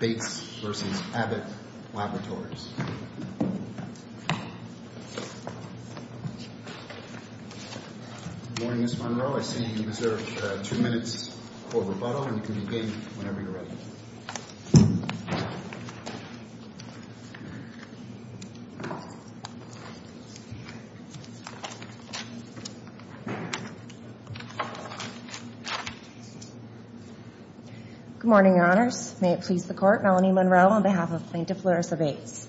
Good morning, Ms. Monroe. I see you deserve two minutes for rebuttal, and you can begin whenever you're ready. Good morning, Your Honors. May it please the Court, Melanie Monroe on behalf of Plaintiff Larissa Bates.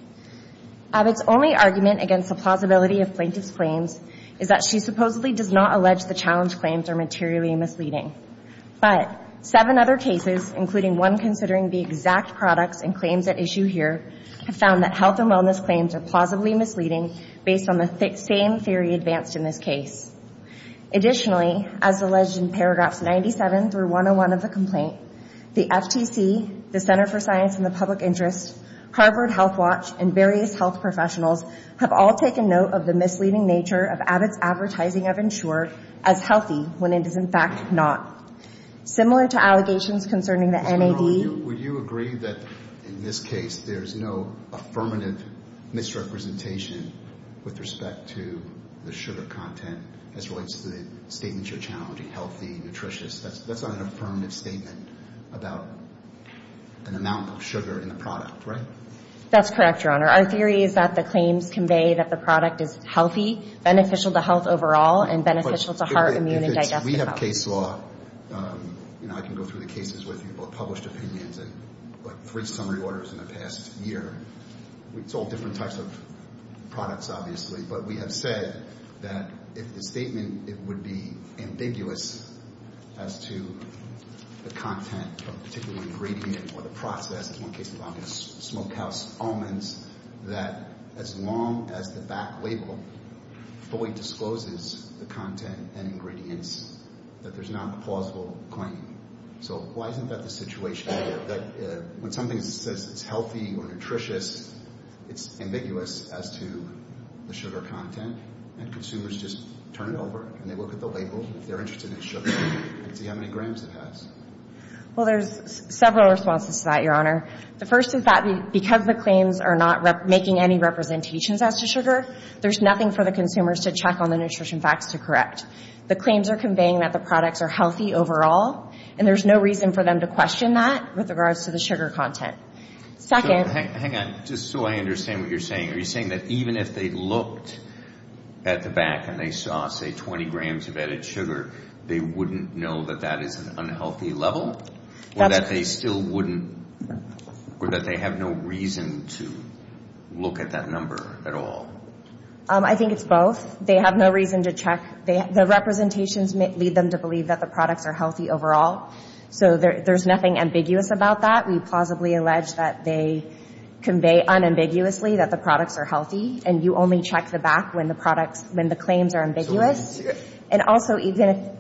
Abbott's only argument against the plausibility of plaintiff's claims is that she supposedly does not allege the challenge claims are materially misleading. But seven other cases, including one considering the exact products and claims at issue here, have found that health and wellness claims are plausibly misleading based on the same theory advanced in this case. Additionally, as alleged in paragraphs 97 through 101 of the complaint, the FTC, the Center for Science in the Public Interest, Harvard Health Watch, and various health professionals have all taken note of the misleading nature of Abbott's advertising of Ensure as healthy when it is, in fact, not. Similar to allegations concerning the NAD... Ms. Monroe, would you agree that in this case there's no affirmative misrepresentation with respect to the sugar content as relates to the statements you're challenging, healthy, nutritious? That's not an affirmative statement about an amount of sugar in the product, right? That's correct, Your Honor. Our theory is that the claims convey that the product is healthy, beneficial to health overall, and beneficial to heart, immune, and digestive health. We have case law, and I can go through the cases with you, both published opinions and three summary orders in the past year. It's all different types of products, obviously, but we have said that if the statement, it would be ambiguous as to the content of a particular ingredient or the process. One case involving smokehouse almonds, that as long as the back label fully discloses the content and ingredients, that there's not a plausible claim. So why isn't that the situation here, that when something says it's healthy or nutritious, it's ambiguous as to the sugar content, and consumers just turn it over and they look at the label, if they're interested in sugar, and see how many grams it has? Well, there's several responses to that, Your Honor. The first is that because the claims are not making any representations as to sugar, there's nothing for the consumers to check on the nutrition facts to correct. The claims are conveying that the products are healthy overall, and there's no reason for them to question that with regards to the sugar content. Second... So, hang on. Just so I understand what you're saying. Are you saying that even if they looked at the back and they saw, say, 20 grams of added sugar, they wouldn't know that that is an unhealthy level, or that they still wouldn't, or that they have no reason to look at that number at all? I think it's both. They have no reason to check. The representations lead them to believe that the products are healthy overall. So there's nothing ambiguous about that. We plausibly allege that they convey unambiguously that the products are healthy, and you only check the back when the products, when the claims are ambiguous. And also, even if...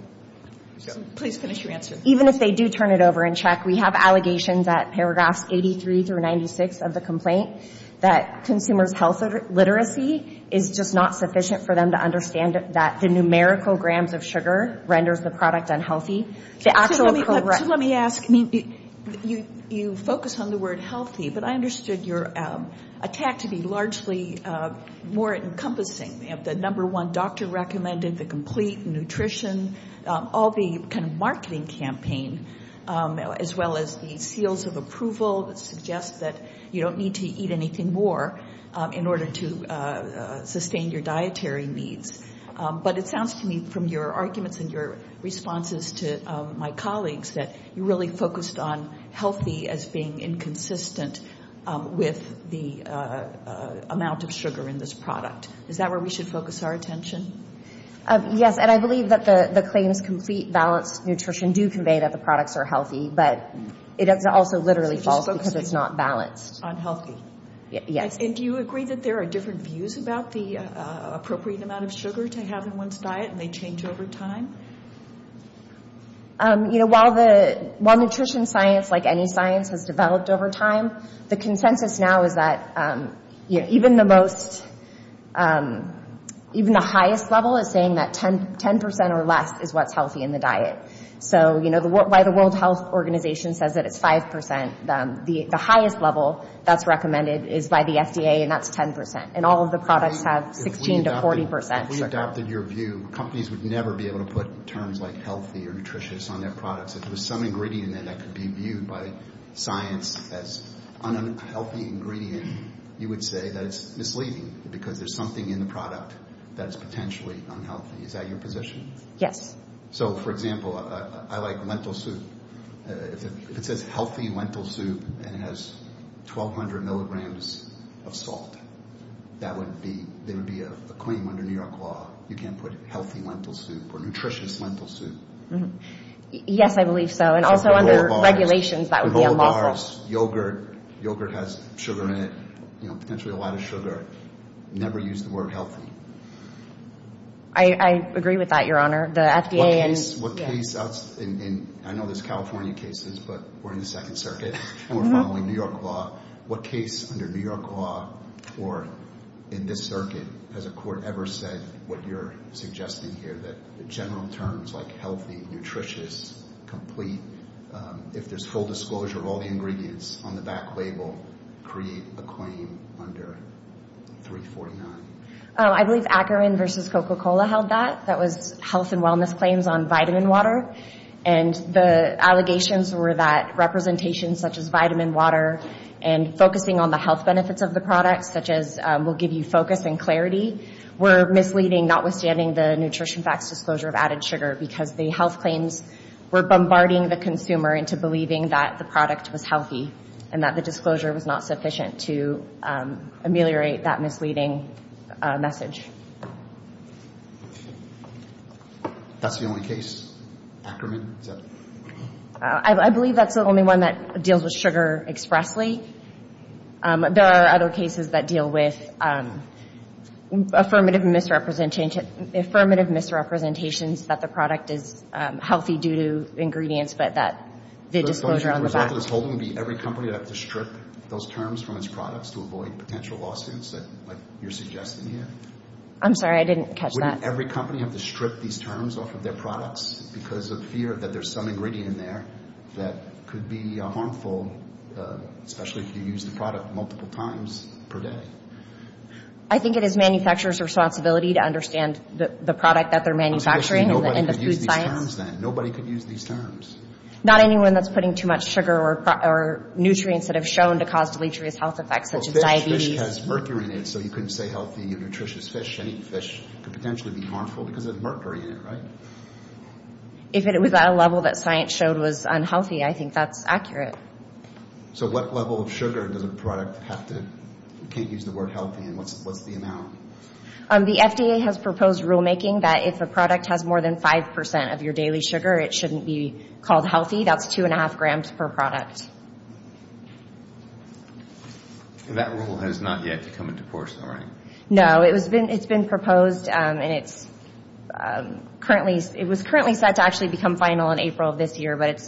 Please finish your answer. Even if they do turn it over and check, we have allegations at paragraphs 83 through 96 of the complaint that consumers' health literacy is just not sufficient for them to understand that the numerical grams of sugar renders the product unhealthy. The actual... So let me ask. You focus on the word healthy, but I understood your attack to be largely more encompassing. You have the number one doctor recommended, the complete nutrition, all the kind of marketing campaign, as well as the seals of approval that suggest that you don't need to eat anything more in order to sustain your dietary needs. But it sounds to me from your arguments and your responses to my colleagues that you really focused on healthy as being inconsistent with the amount of sugar in this product. Is that where we should focus our attention? Yes, and I believe that the claims, complete, balanced nutrition, do convey that the products are healthy, but it also literally falls because it's not balanced. It just focuses on healthy. Yes. And do you agree that there are different views about the appropriate amount of sugar to have in one's diet, and they change over time? While nutrition science, like any science, has developed over time, the consensus now is that even the highest level is saying that 10% or less is what's healthy in the diet. So while the World Health Organization says that it's 5%, the highest level that's recommended is by the FDA, and that's 10%. And all of the products have 16% to 40%. If we adopted your view, companies would never be able to put terms like healthy or nutritious on their products. If there was some ingredient in there that could be viewed by science as an unhealthy ingredient, you would say that it's misleading because there's something in the product that is potentially unhealthy. Is that your position? Yes. So, for example, I like lentil soup. If it says healthy lentil soup and it has 1200 milligrams of salt, that would be, there would be a claim under New York law, you can't put healthy lentil soup or nutritious lentil soup. Yes, I believe so. And also under regulations, that would be unlawful. With whole bars, yogurt, yogurt has sugar in it, you know, potentially a lot of sugar. Never use the word healthy. I agree with that, Your Honor. The FDA and... What case, I know there's California cases, but we're in the Second Circuit, and we're in a case under New York law, or in this circuit, has a court ever said what you're suggesting here, that general terms like healthy, nutritious, complete, if there's full disclosure of all the ingredients on the back label, create a claim under 349? I believe Akron versus Coca-Cola held that. That was health and wellness claims on vitamin water. And the allegations were that representations such as vitamin water and focusing on the health benefits of the products, such as we'll give you focus and clarity, were misleading, notwithstanding the nutrition facts disclosure of added sugar, because the health claims were bombarding the consumer into believing that the product was healthy, and that the disclosure was not sufficient to ameliorate that misleading message. That's the only case? Akron? I believe that's the only one that deals with sugar expressly. There are other cases that deal with affirmative misrepresentations that the product is healthy due to ingredients, but that the disclosure on the back... So the result of this holding would be every company would have to strip those terms from its products to avoid potential lawsuits, like you're suggesting here? I'm sorry, I didn't catch that. Would every company have to strip these terms off of their products because of fear that there's some ingredient in there that could be harmful, especially if you use the product multiple times per day? I think it is manufacturers' responsibility to understand the product that they're manufacturing and the food science. Especially nobody could use these terms then. Nobody could use these terms. Not anyone that's putting too much sugar or nutrients that have shown to cause deleterious health effects, such as diabetes. If a fish has mercury in it, so you couldn't say healthy or nutritious fish, any fish could potentially be harmful because of mercury in it, right? If it was at a level that science showed was unhealthy, I think that's accurate. So what level of sugar does a product have to... You can't use the word healthy, and what's the amount? The FDA has proposed rulemaking that if a product has more than 5% of your daily sugar, it shouldn't be called healthy. That's 2.5 grams per product. That rule has not yet come into force, though, right? No, it's been proposed and it was currently set to actually become final in April of this year, but it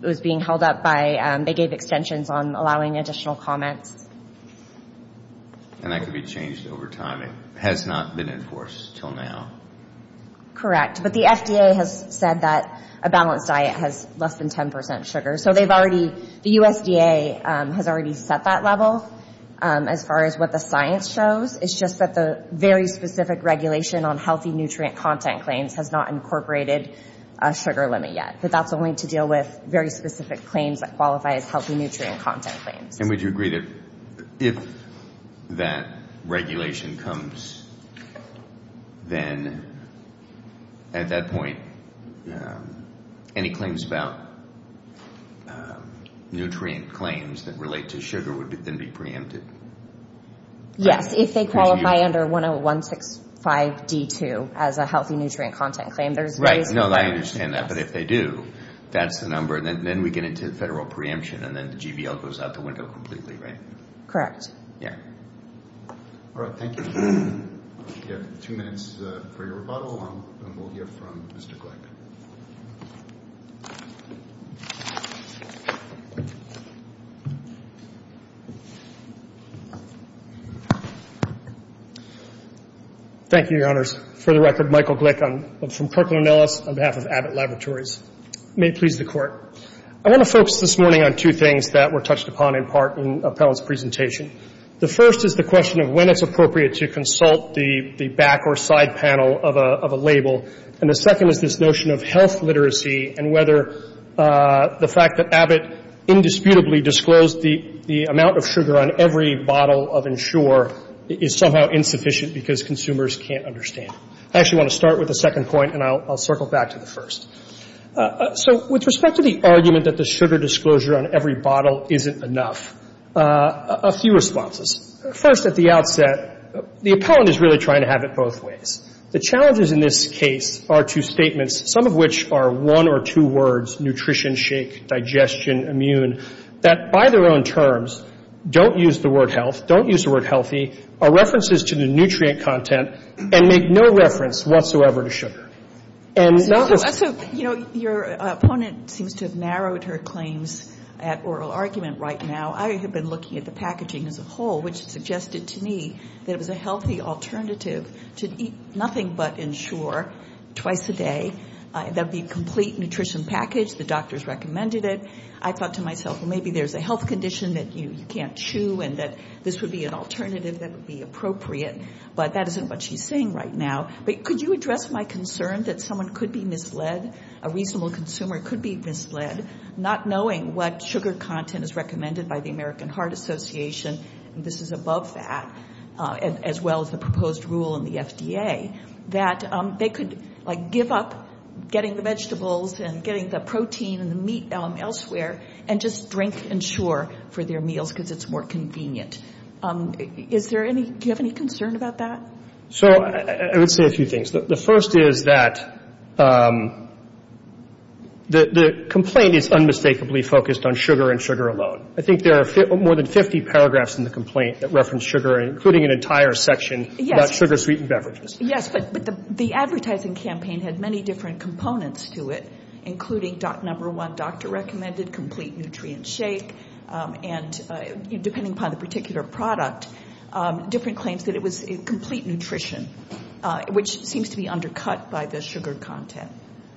was being held up by... They gave extensions on allowing additional comments. And that could be changed over time. It has not been enforced until now. Correct, but the FDA has said that a balanced diet has less than 10% sugar, so they've already The USDA has already set that level as far as what the science shows. It's just that the very specific regulation on healthy nutrient content claims has not incorporated a sugar limit yet, but that's only to deal with very specific claims that qualify as healthy nutrient content claims. And would you agree that if that regulation comes, then at that point, any claims about nutrient claims that relate to sugar would then be preempted? Yes, if they qualify under 10165D2 as a healthy nutrient content claim. Right, no, I understand that, but if they do, that's the number. Then we get into federal preemption and then the GBL goes out the window completely, right? Correct. Yeah. All right, thank you. We have two minutes for your rebuttal and we'll hear from Mr. Gleick. Thank you, Your Honors. For the record, Michael Gleick from Kirkland & Ellis on behalf of Abbott Laboratories. May it please the Court. I want to focus this morning on two things that were touched upon in part in Appellant's presentation. The first is the question of when it's appropriate to consult the back or side panel of a label, and the second is this notion of health literacy and whether the fact that Abbott indisputably disclosed the amount of sugar on every bottle of Ensure is somehow insufficient because consumers can't understand it. I actually want to start with the second point and I'll circle back to the first. So with respect to the argument that the sugar disclosure on every bottle isn't enough, a few responses. First, at the outset, the Appellant is really trying to have it both ways. The challenges in this case are two statements, some of which are one or two words, nutrition, shake, digestion, immune, that by their own terms don't use the word health, don't use the word healthy, are references to the nutrient content, and make no reference whatsoever to sugar. And that was So, you know, your opponent seems to have narrowed her claims at oral argument right now. I have been looking at the packaging as a whole, which suggested to me that it was a healthy alternative to eat nothing but Ensure twice a day. That would be a complete nutrition package. The doctors recommended it. I thought to myself, well, maybe there's a health condition that you can't chew and that this would be an alternative that would be appropriate. But that isn't what she's saying right now. But could you address my concern that someone could be misled, a reasonable consumer could be misled, not knowing what sugar content is recommended by the American Heart Association, and this is above that, as well as the proposed rule in the FDA, that they could, like, give up getting the vegetables and getting the protein and the meat elsewhere and just drink Ensure for their meals because it's more convenient. Is there any, do you have any concern about that? So, I would say a few things. The first is that the complaint is unmistakably focused on sugar and sugar alone. I think there are more than 50 paragraphs in the complaint that reference sugar, including an entire section about sugar, sweetened beverages. Yes, but the advertising campaign had many different components to it, including number one, doctor recommended, complete nutrient shake, and depending upon the particular product, different claims that it was complete nutrition, which seems to be undercut by the sugar content.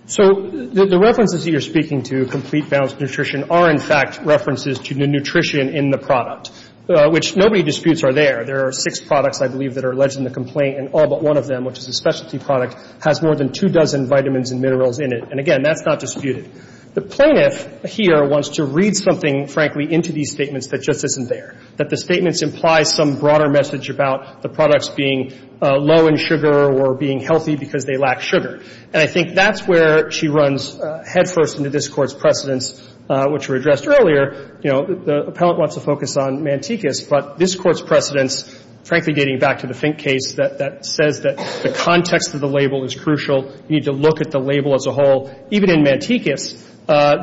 So, the references that you're speaking to, complete balanced nutrition, are, in fact, references to the nutrition in the product, which nobody disputes are there. There are six products, I believe, that are alleged in the complaint, and all but one of them, which is a specialty product, has more than two dozen vitamins and minerals in it. And, again, that's not disputed. The plaintiff here wants to read something, frankly, into these statements that just isn't there, that the statements imply some broader message about the products being low in sugar or being healthy because they lack sugar. And I think that's where she runs headfirst into this Court's precedents, which were addressed earlier. You know, the appellant wants to focus on Mantecas, but this Court's precedents, frankly, dating back to the Fink case, that says that the context of the label is crucial. You need to look at the label as a whole. Even in Mantecas,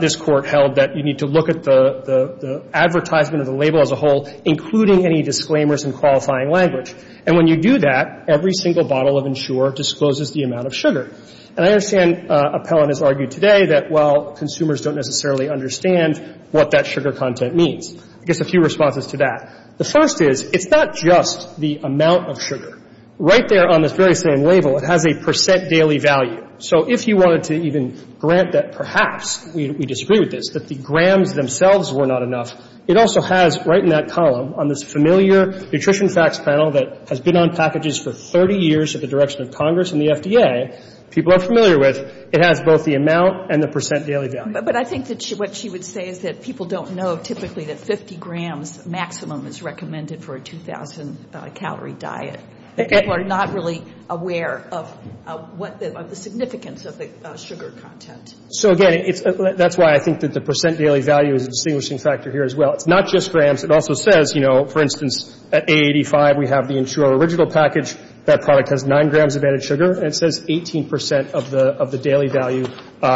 this Court held that you need to look at the advertisement of the label as a whole, including any disclaimers in qualifying language. And when you do that, every single bottle of Ensure discloses the amount of sugar. And I understand appellant has argued today that, well, consumers don't necessarily understand what that sugar content means. I guess a few responses to that. The first is, it's not just the amount of sugar. Right there on this very same label, it has a percent daily value. So if you wanted to even grant that perhaps, we disagree with this, that the grams themselves were not enough, it also has, right in that column, on this familiar Nutrition Facts panel that has been on packages for 30 years at the direction of Congress and the FDA, people are familiar with, it has both the amount and the percent daily value. But I think that what she would say is that people don't know typically that 50 grams maximum is recommended for a 2,000 calorie diet. People are not really aware of the significance of the sugar content. So again, that's why I think that the percent daily value is a distinguishing factor here as well. It's not just grams. It also says, you know, for instance, at A85, we have the Inturo original package. That product has nine grams of added sugar. And it says 18 percent of the daily value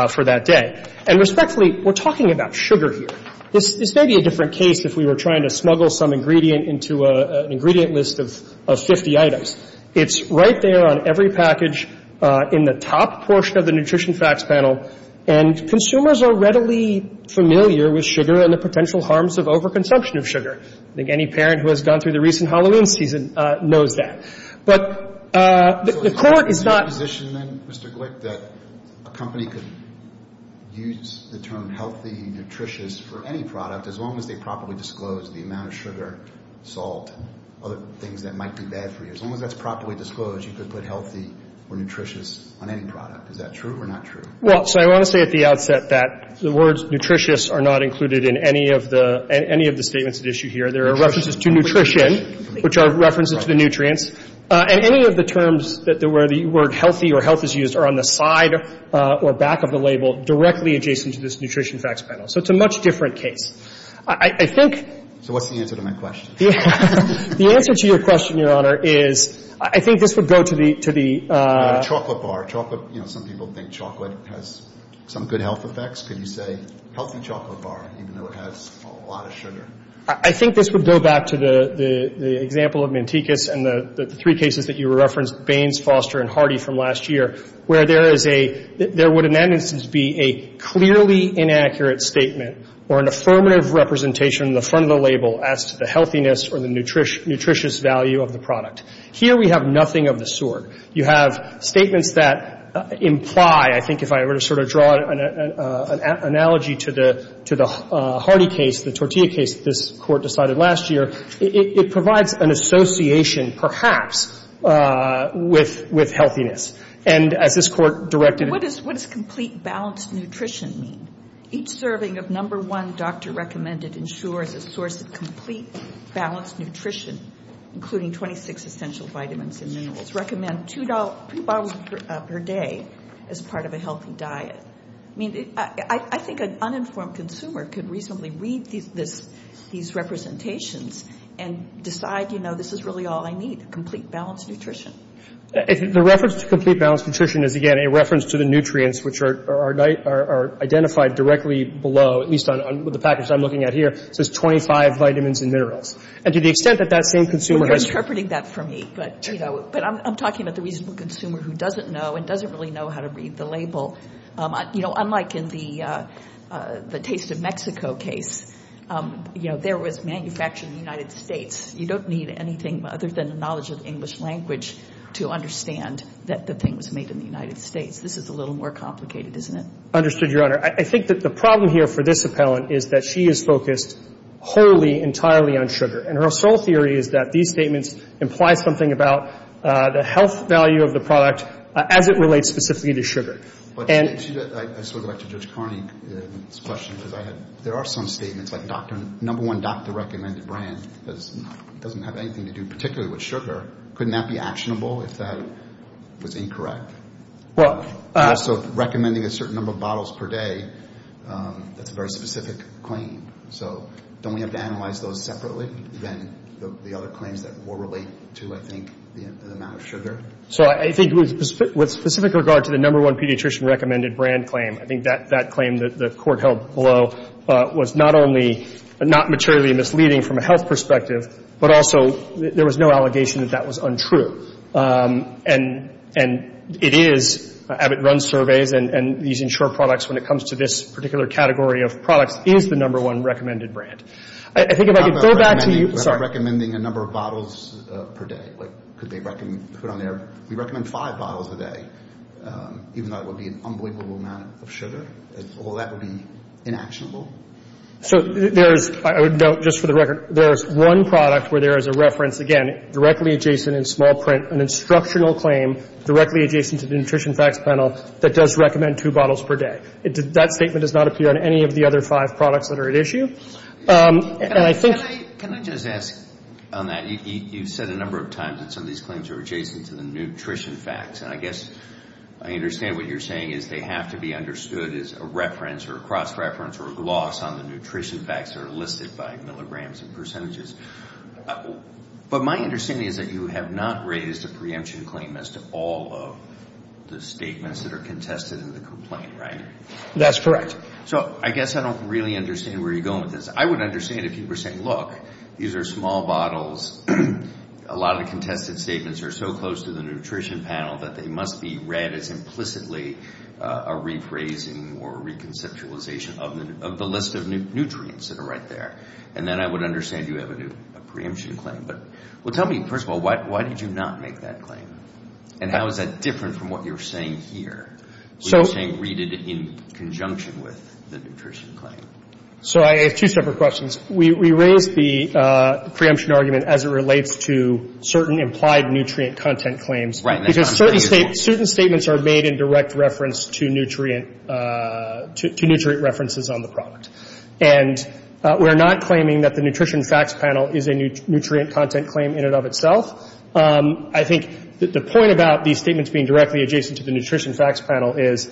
for that day. And respectfully, we're talking about sugar here. This may be a different case if we were trying to smuggle some ingredient into an ingredient list of 50 items. It's right there on every package in the top portion of the Nutrition Facts panel. And consumers are readily familiar with sugar and the potential harms of overconsumption of sugar. I think any parent who has gone through the recent Halloween season knows that. But the court is not… So is there a position then, Mr. Glick, that a company could use the term healthy, nutritious for any product as long as they properly disclose the amount of sugar, salt, and other things that might be bad for you? As long as that's properly disclosed, you could put healthy or nutritious on any product. Is that true or not true? Well, so I want to say at the outset that the words nutritious are not included in any of the statements at issue here. There are references to nutrition, which are references to the nutrients. And any of the terms where the word healthy or health is used are on the side or back of the label, directly adjacent to this Nutrition Facts panel. So it's a much different case. I think… So what's the answer to my question? The answer to your question, Your Honor, is I think this would go to the… What about a chocolate bar? You know, some people think chocolate has some good health effects. Could you say healthy chocolate bar, even though it has a lot of sugar? I think this would go back to the example of Mantecas and the three cases that you referenced, Baines, Foster, and Hardy from last year, where there is a… There would in that instance be a clearly inaccurate statement or an affirmative representation in the front of the label as to the healthiness or the nutritious value of the product. Here we have nothing of the sort. You have statements that imply, I think if I were to sort of draw an analogy to the Hardy case, the tortilla case that this Court decided last year, it provides an association perhaps with healthiness. And as this Court directed… What does complete balanced nutrition mean? Each serving of number one doctor-recommended ensures a source of complete balanced nutrition, including 26 essential vitamins and minerals. Recommend two bottles per day as part of a healthy diet. I mean, I think an uninformed consumer could reasonably read these representations and decide, you know, this is really all I need, complete balanced nutrition. The reference to complete balanced nutrition is, again, a reference to the nutrients, which are identified directly below, at least with the package I'm looking at here. It says 25 vitamins and minerals. And to the extent that that same consumer has… You're interpreting that for me. But, you know, I'm talking about the reasonable consumer who doesn't know and doesn't really know how to read the label. You know, unlike in the Taste of Mexico case, you know, there was manufactured in the United States. You don't need anything other than the knowledge of English language to understand that the thing was made in the United States. This is a little more complicated, isn't it? Understood, Your Honor. I think that the problem here for this appellant is that she is focused wholly, entirely on sugar. And her sole theory is that these statements imply something about the health value of the product as it relates specifically to sugar. I sort of like Judge Carney's question because there are some statements like number one, Dr. Recommended Brand doesn't have anything to do particularly with sugar. Couldn't that be actionable if that was incorrect? Also, recommending a certain number of bottles per day, that's a very specific claim. So don't we have to analyze those separately than the other claims that will relate to, I think, the amount of sugar? So I think with specific regard to the number one pediatrician recommended brand claim, I think that claim that the court held below was not only not materially misleading from a health perspective, but also there was no allegation that that was untrue. And it is. Abbott runs surveys and these insured products, when it comes to this particular category of products, is the number one recommended brand. I think if I could go back to you... What about recommending a number of bottles per day? Could they put on there, we recommend five bottles a day, even though it would be an unbelievable amount of sugar? All that would be inactionable? So there is, just for the record, there is one product where there is a reference, again, directly adjacent in small print, an instructional claim directly adjacent to the Nutrition Facts Panel that does recommend two bottles per day. That statement does not appear on any of the other five products that are at issue. And I think... Can I just ask on that? You've said a number of times that some of these claims are adjacent to the Nutrition Facts. And I guess I understand what you're saying is they have to be understood as a reference or a cross-reference or a gloss on the Nutrition Facts that are listed by milligrams and percentages. But my understanding is that you have not raised a preemption claim as to all of the statements that are contested in the complaint, right? That's correct. So I guess I don't really understand where you're going with this. I would understand if you were saying, look, these are small bottles. A lot of the contested statements are so close to the Nutrition Panel that they must be read as implicitly a rephrasing or a reconceptualization of the list of nutrients that are right there. And then I would understand you have a preemption claim. Well, tell me, first of all, why did you not make that claim? And how is that different from what you're saying here? You're saying read it in conjunction with the nutrition claim. So I have two separate questions. We raised the preemption argument as it relates to certain implied nutrient content claims. Because certain statements are made in direct reference to nutrient references on the product. And we're not claiming that the Nutrition Facts Panel is a nutrient content claim in and of itself. I think the point about these statements being directly adjacent to the Nutrition Facts Panel is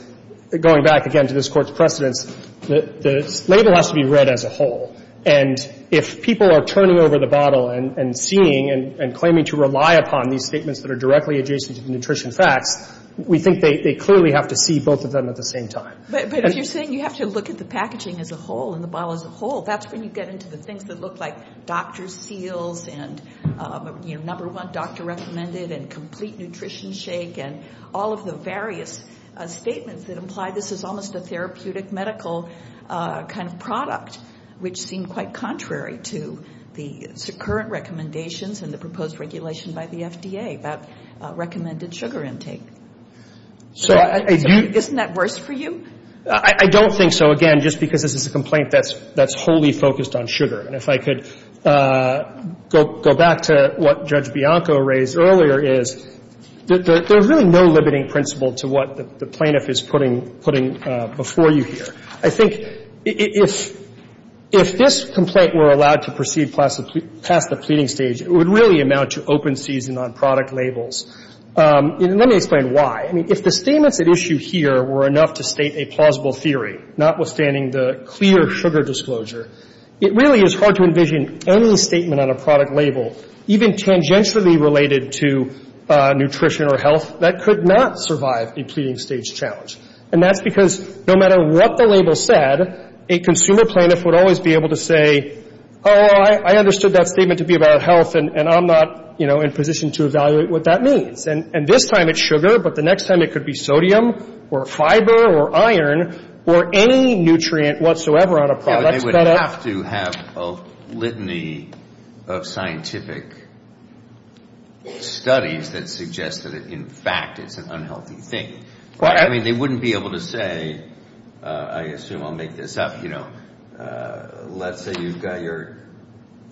going back again to this Court's precedence, the label has to be read as a whole. And if people are turning over the bottle and seeing and claiming to rely upon these statements that are directly adjacent to the Nutrition Facts, we think they clearly have to see both of them at the same time. But if you're saying you have to look at the packaging as a whole and the bottle as a whole, that's when you get into the things that look like doctor's seals and number one doctor recommended and complete nutrition shake and all of the various statements that imply this is almost a therapeutic medical kind of product, which seem quite contrary to the current recommendations and the proposed regulation by the FDA about recommended sugar intake. Isn't that worse for you? I don't think so. Again, just because this is a complaint that's wholly focused on sugar. And if I could go back to what Judge Bianco raised earlier is there's really no limiting principle to what the plaintiff is putting before you here. I think if this complaint were allowed to proceed past the pleading stage, it would really amount to open season on product labels. And let me explain why. I mean, if the statements at issue here were enough to state a plausible theory, notwithstanding the clear sugar disclosure, it really is hard to envision any statement on a product label, even tangentially related to nutrition or health, that could not survive a pleading stage challenge. And that's because no matter what the label said, a consumer plaintiff would always be able to say, oh, I understood that statement to be about health and I'm not in position to evaluate what that means. And this time it's sugar, but the next time it could be sodium or fiber or iron or any nutrient whatsoever on a product. They would have to have a litany of scientific studies that suggest that in fact it's an unhealthy thing. I mean, they wouldn't be able to say, I assume I'll make this up, let's say you've got your,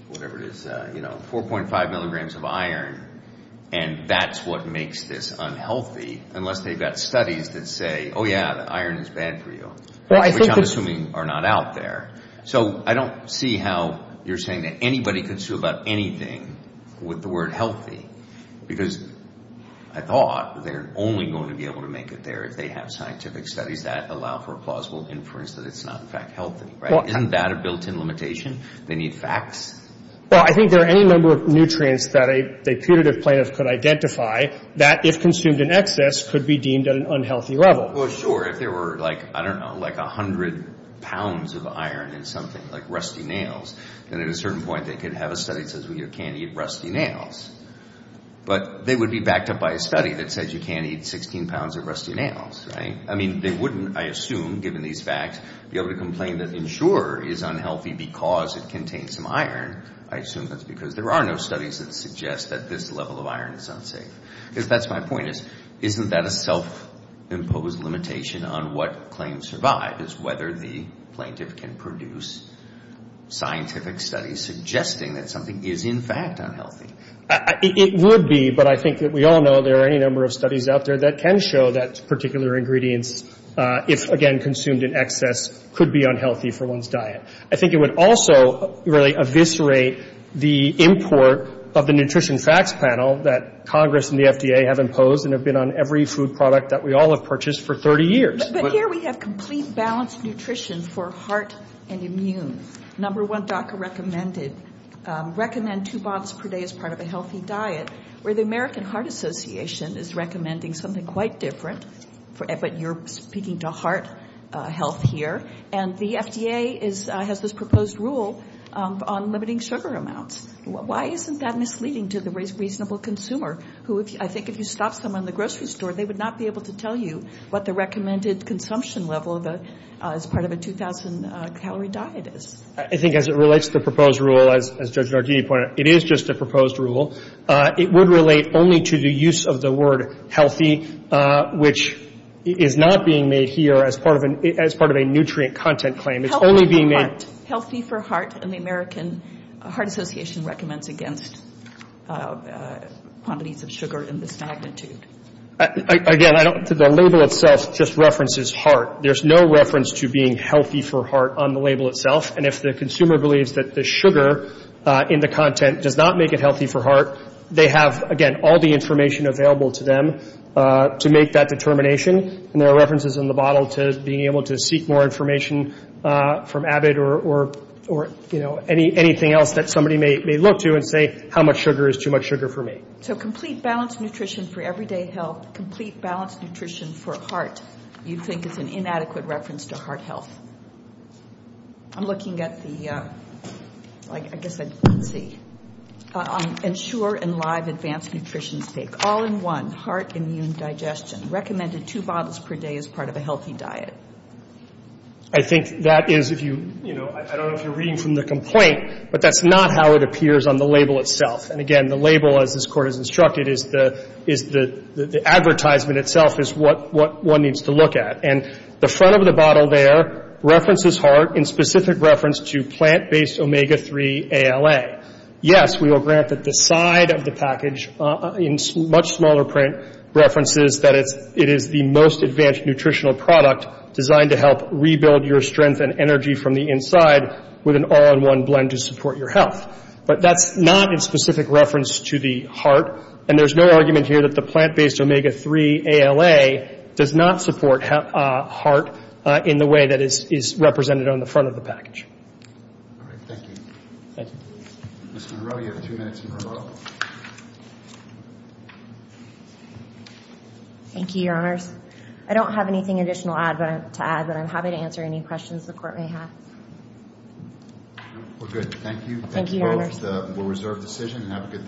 whatever it is, 4.5 milligrams of iron and that's what makes this unhealthy, unless they've got studies that say, oh yeah, the iron is bad for you. Which I'm assuming are not out there. So I don't see how you're saying that anybody could sue about anything with the word healthy. Because I thought they're only going to be able to make it there if they have scientific studies that allow for a plausible inference that it's not in fact healthy, right? Isn't that a built-in limitation? They need facts? Well, I think there are any number of nutrients that a putative plaintiff could identify that, if consumed in excess, could be deemed at an unhealthy level. Well, sure. If there were, I don't know, like 100 pounds of iron in something, like rusty nails, then at a certain point they could have a study that says, well, you can't eat rusty nails. But they would be backed up by a study that says you can't eat 16 pounds of rusty nails, right? I mean, they wouldn't, I assume, given these facts, be able to complain that Ensure is unhealthy because it contains some iron. I assume that's because there are no studies that suggest that this level of iron is unsafe. Because that's my point is, isn't that a self-imposed limitation on what claims survive? Is whether the plaintiff can produce scientific studies suggesting that something is in fact unhealthy. It would be. But I think that we all know there are any number of studies out there that can show that particular ingredients, if, again, consumed in excess, could be unhealthy for one's diet. I think it would also really eviscerate the import of the Nutrition Facts Panel that Congress and the FDA have imposed and have been on every food product that we all have purchased for 30 years. But here we have complete balanced nutrition for heart and immune. Number one, DACA recommended, recommend two boxes per day as part of a healthy diet. Where the American Heart Association is recommending something quite different. But you're speaking to heart health here. And the FDA has this proposed rule on limiting sugar amounts. Why isn't that misleading to the reasonable consumer? Who, I think, if you stopped someone in the grocery store, they would not be able to tell you what the recommended consumption level as part of a 2,000-calorie diet is. I think as it relates to the proposed rule, as Judge Nardini pointed out, it is just a proposed rule. It would relate only to the use of the word healthy, which is not being made here as part of a nutrient content claim. It's only being made... Healthy for heart. And the American Heart Association recommends against quantities of sugar in this magnitude. Again, I don't think the label itself just references heart. There's no reference to being healthy for heart on the label itself. And if the consumer believes that the sugar in the content does not make it healthy for heart, they have, again, all the information available to them to make that determination. And there are references in the bottle to being able to seek more information from Abbott or anything else that somebody may look to and say, how much sugar is too much sugar for me? So complete balanced nutrition for everyday health, complete balanced nutrition for heart, you think is an inadequate reference to heart health. I'm looking at the... I guess I... Let's see. Ensure and live advanced nutrition stake. All-in-one heart immune digestion. Recommended two bottles per day as part of a healthy diet. I think that is, if you... I don't know if you're reading from the complaint, but that's not how it appears on the label itself. And again, the label, as this Court has instructed, is the advertisement itself is what one needs to look at. And the front of the bottle there references heart in specific reference to plant-based omega-3 ALA. Yes, we will grant that the side of the package, in much smaller print, references that it is the most advanced nutritional product designed to help rebuild your strength and energy from the inside with an all-in-one blend to support your health. But that's not in specific reference to the heart. And there's no argument here that the plant-based omega-3 ALA does not support heart in the way that is represented on the front of the package. All right. Thank you. Thank you. Ms. Monroe, you have two minutes in a row. Thank you, Your Honors. I don't have anything additional to add, but I'm happy to answer any questions the Court may have. We're good. Thank you. Thank you, Your Honors. We'll reserve the decision and have a good day.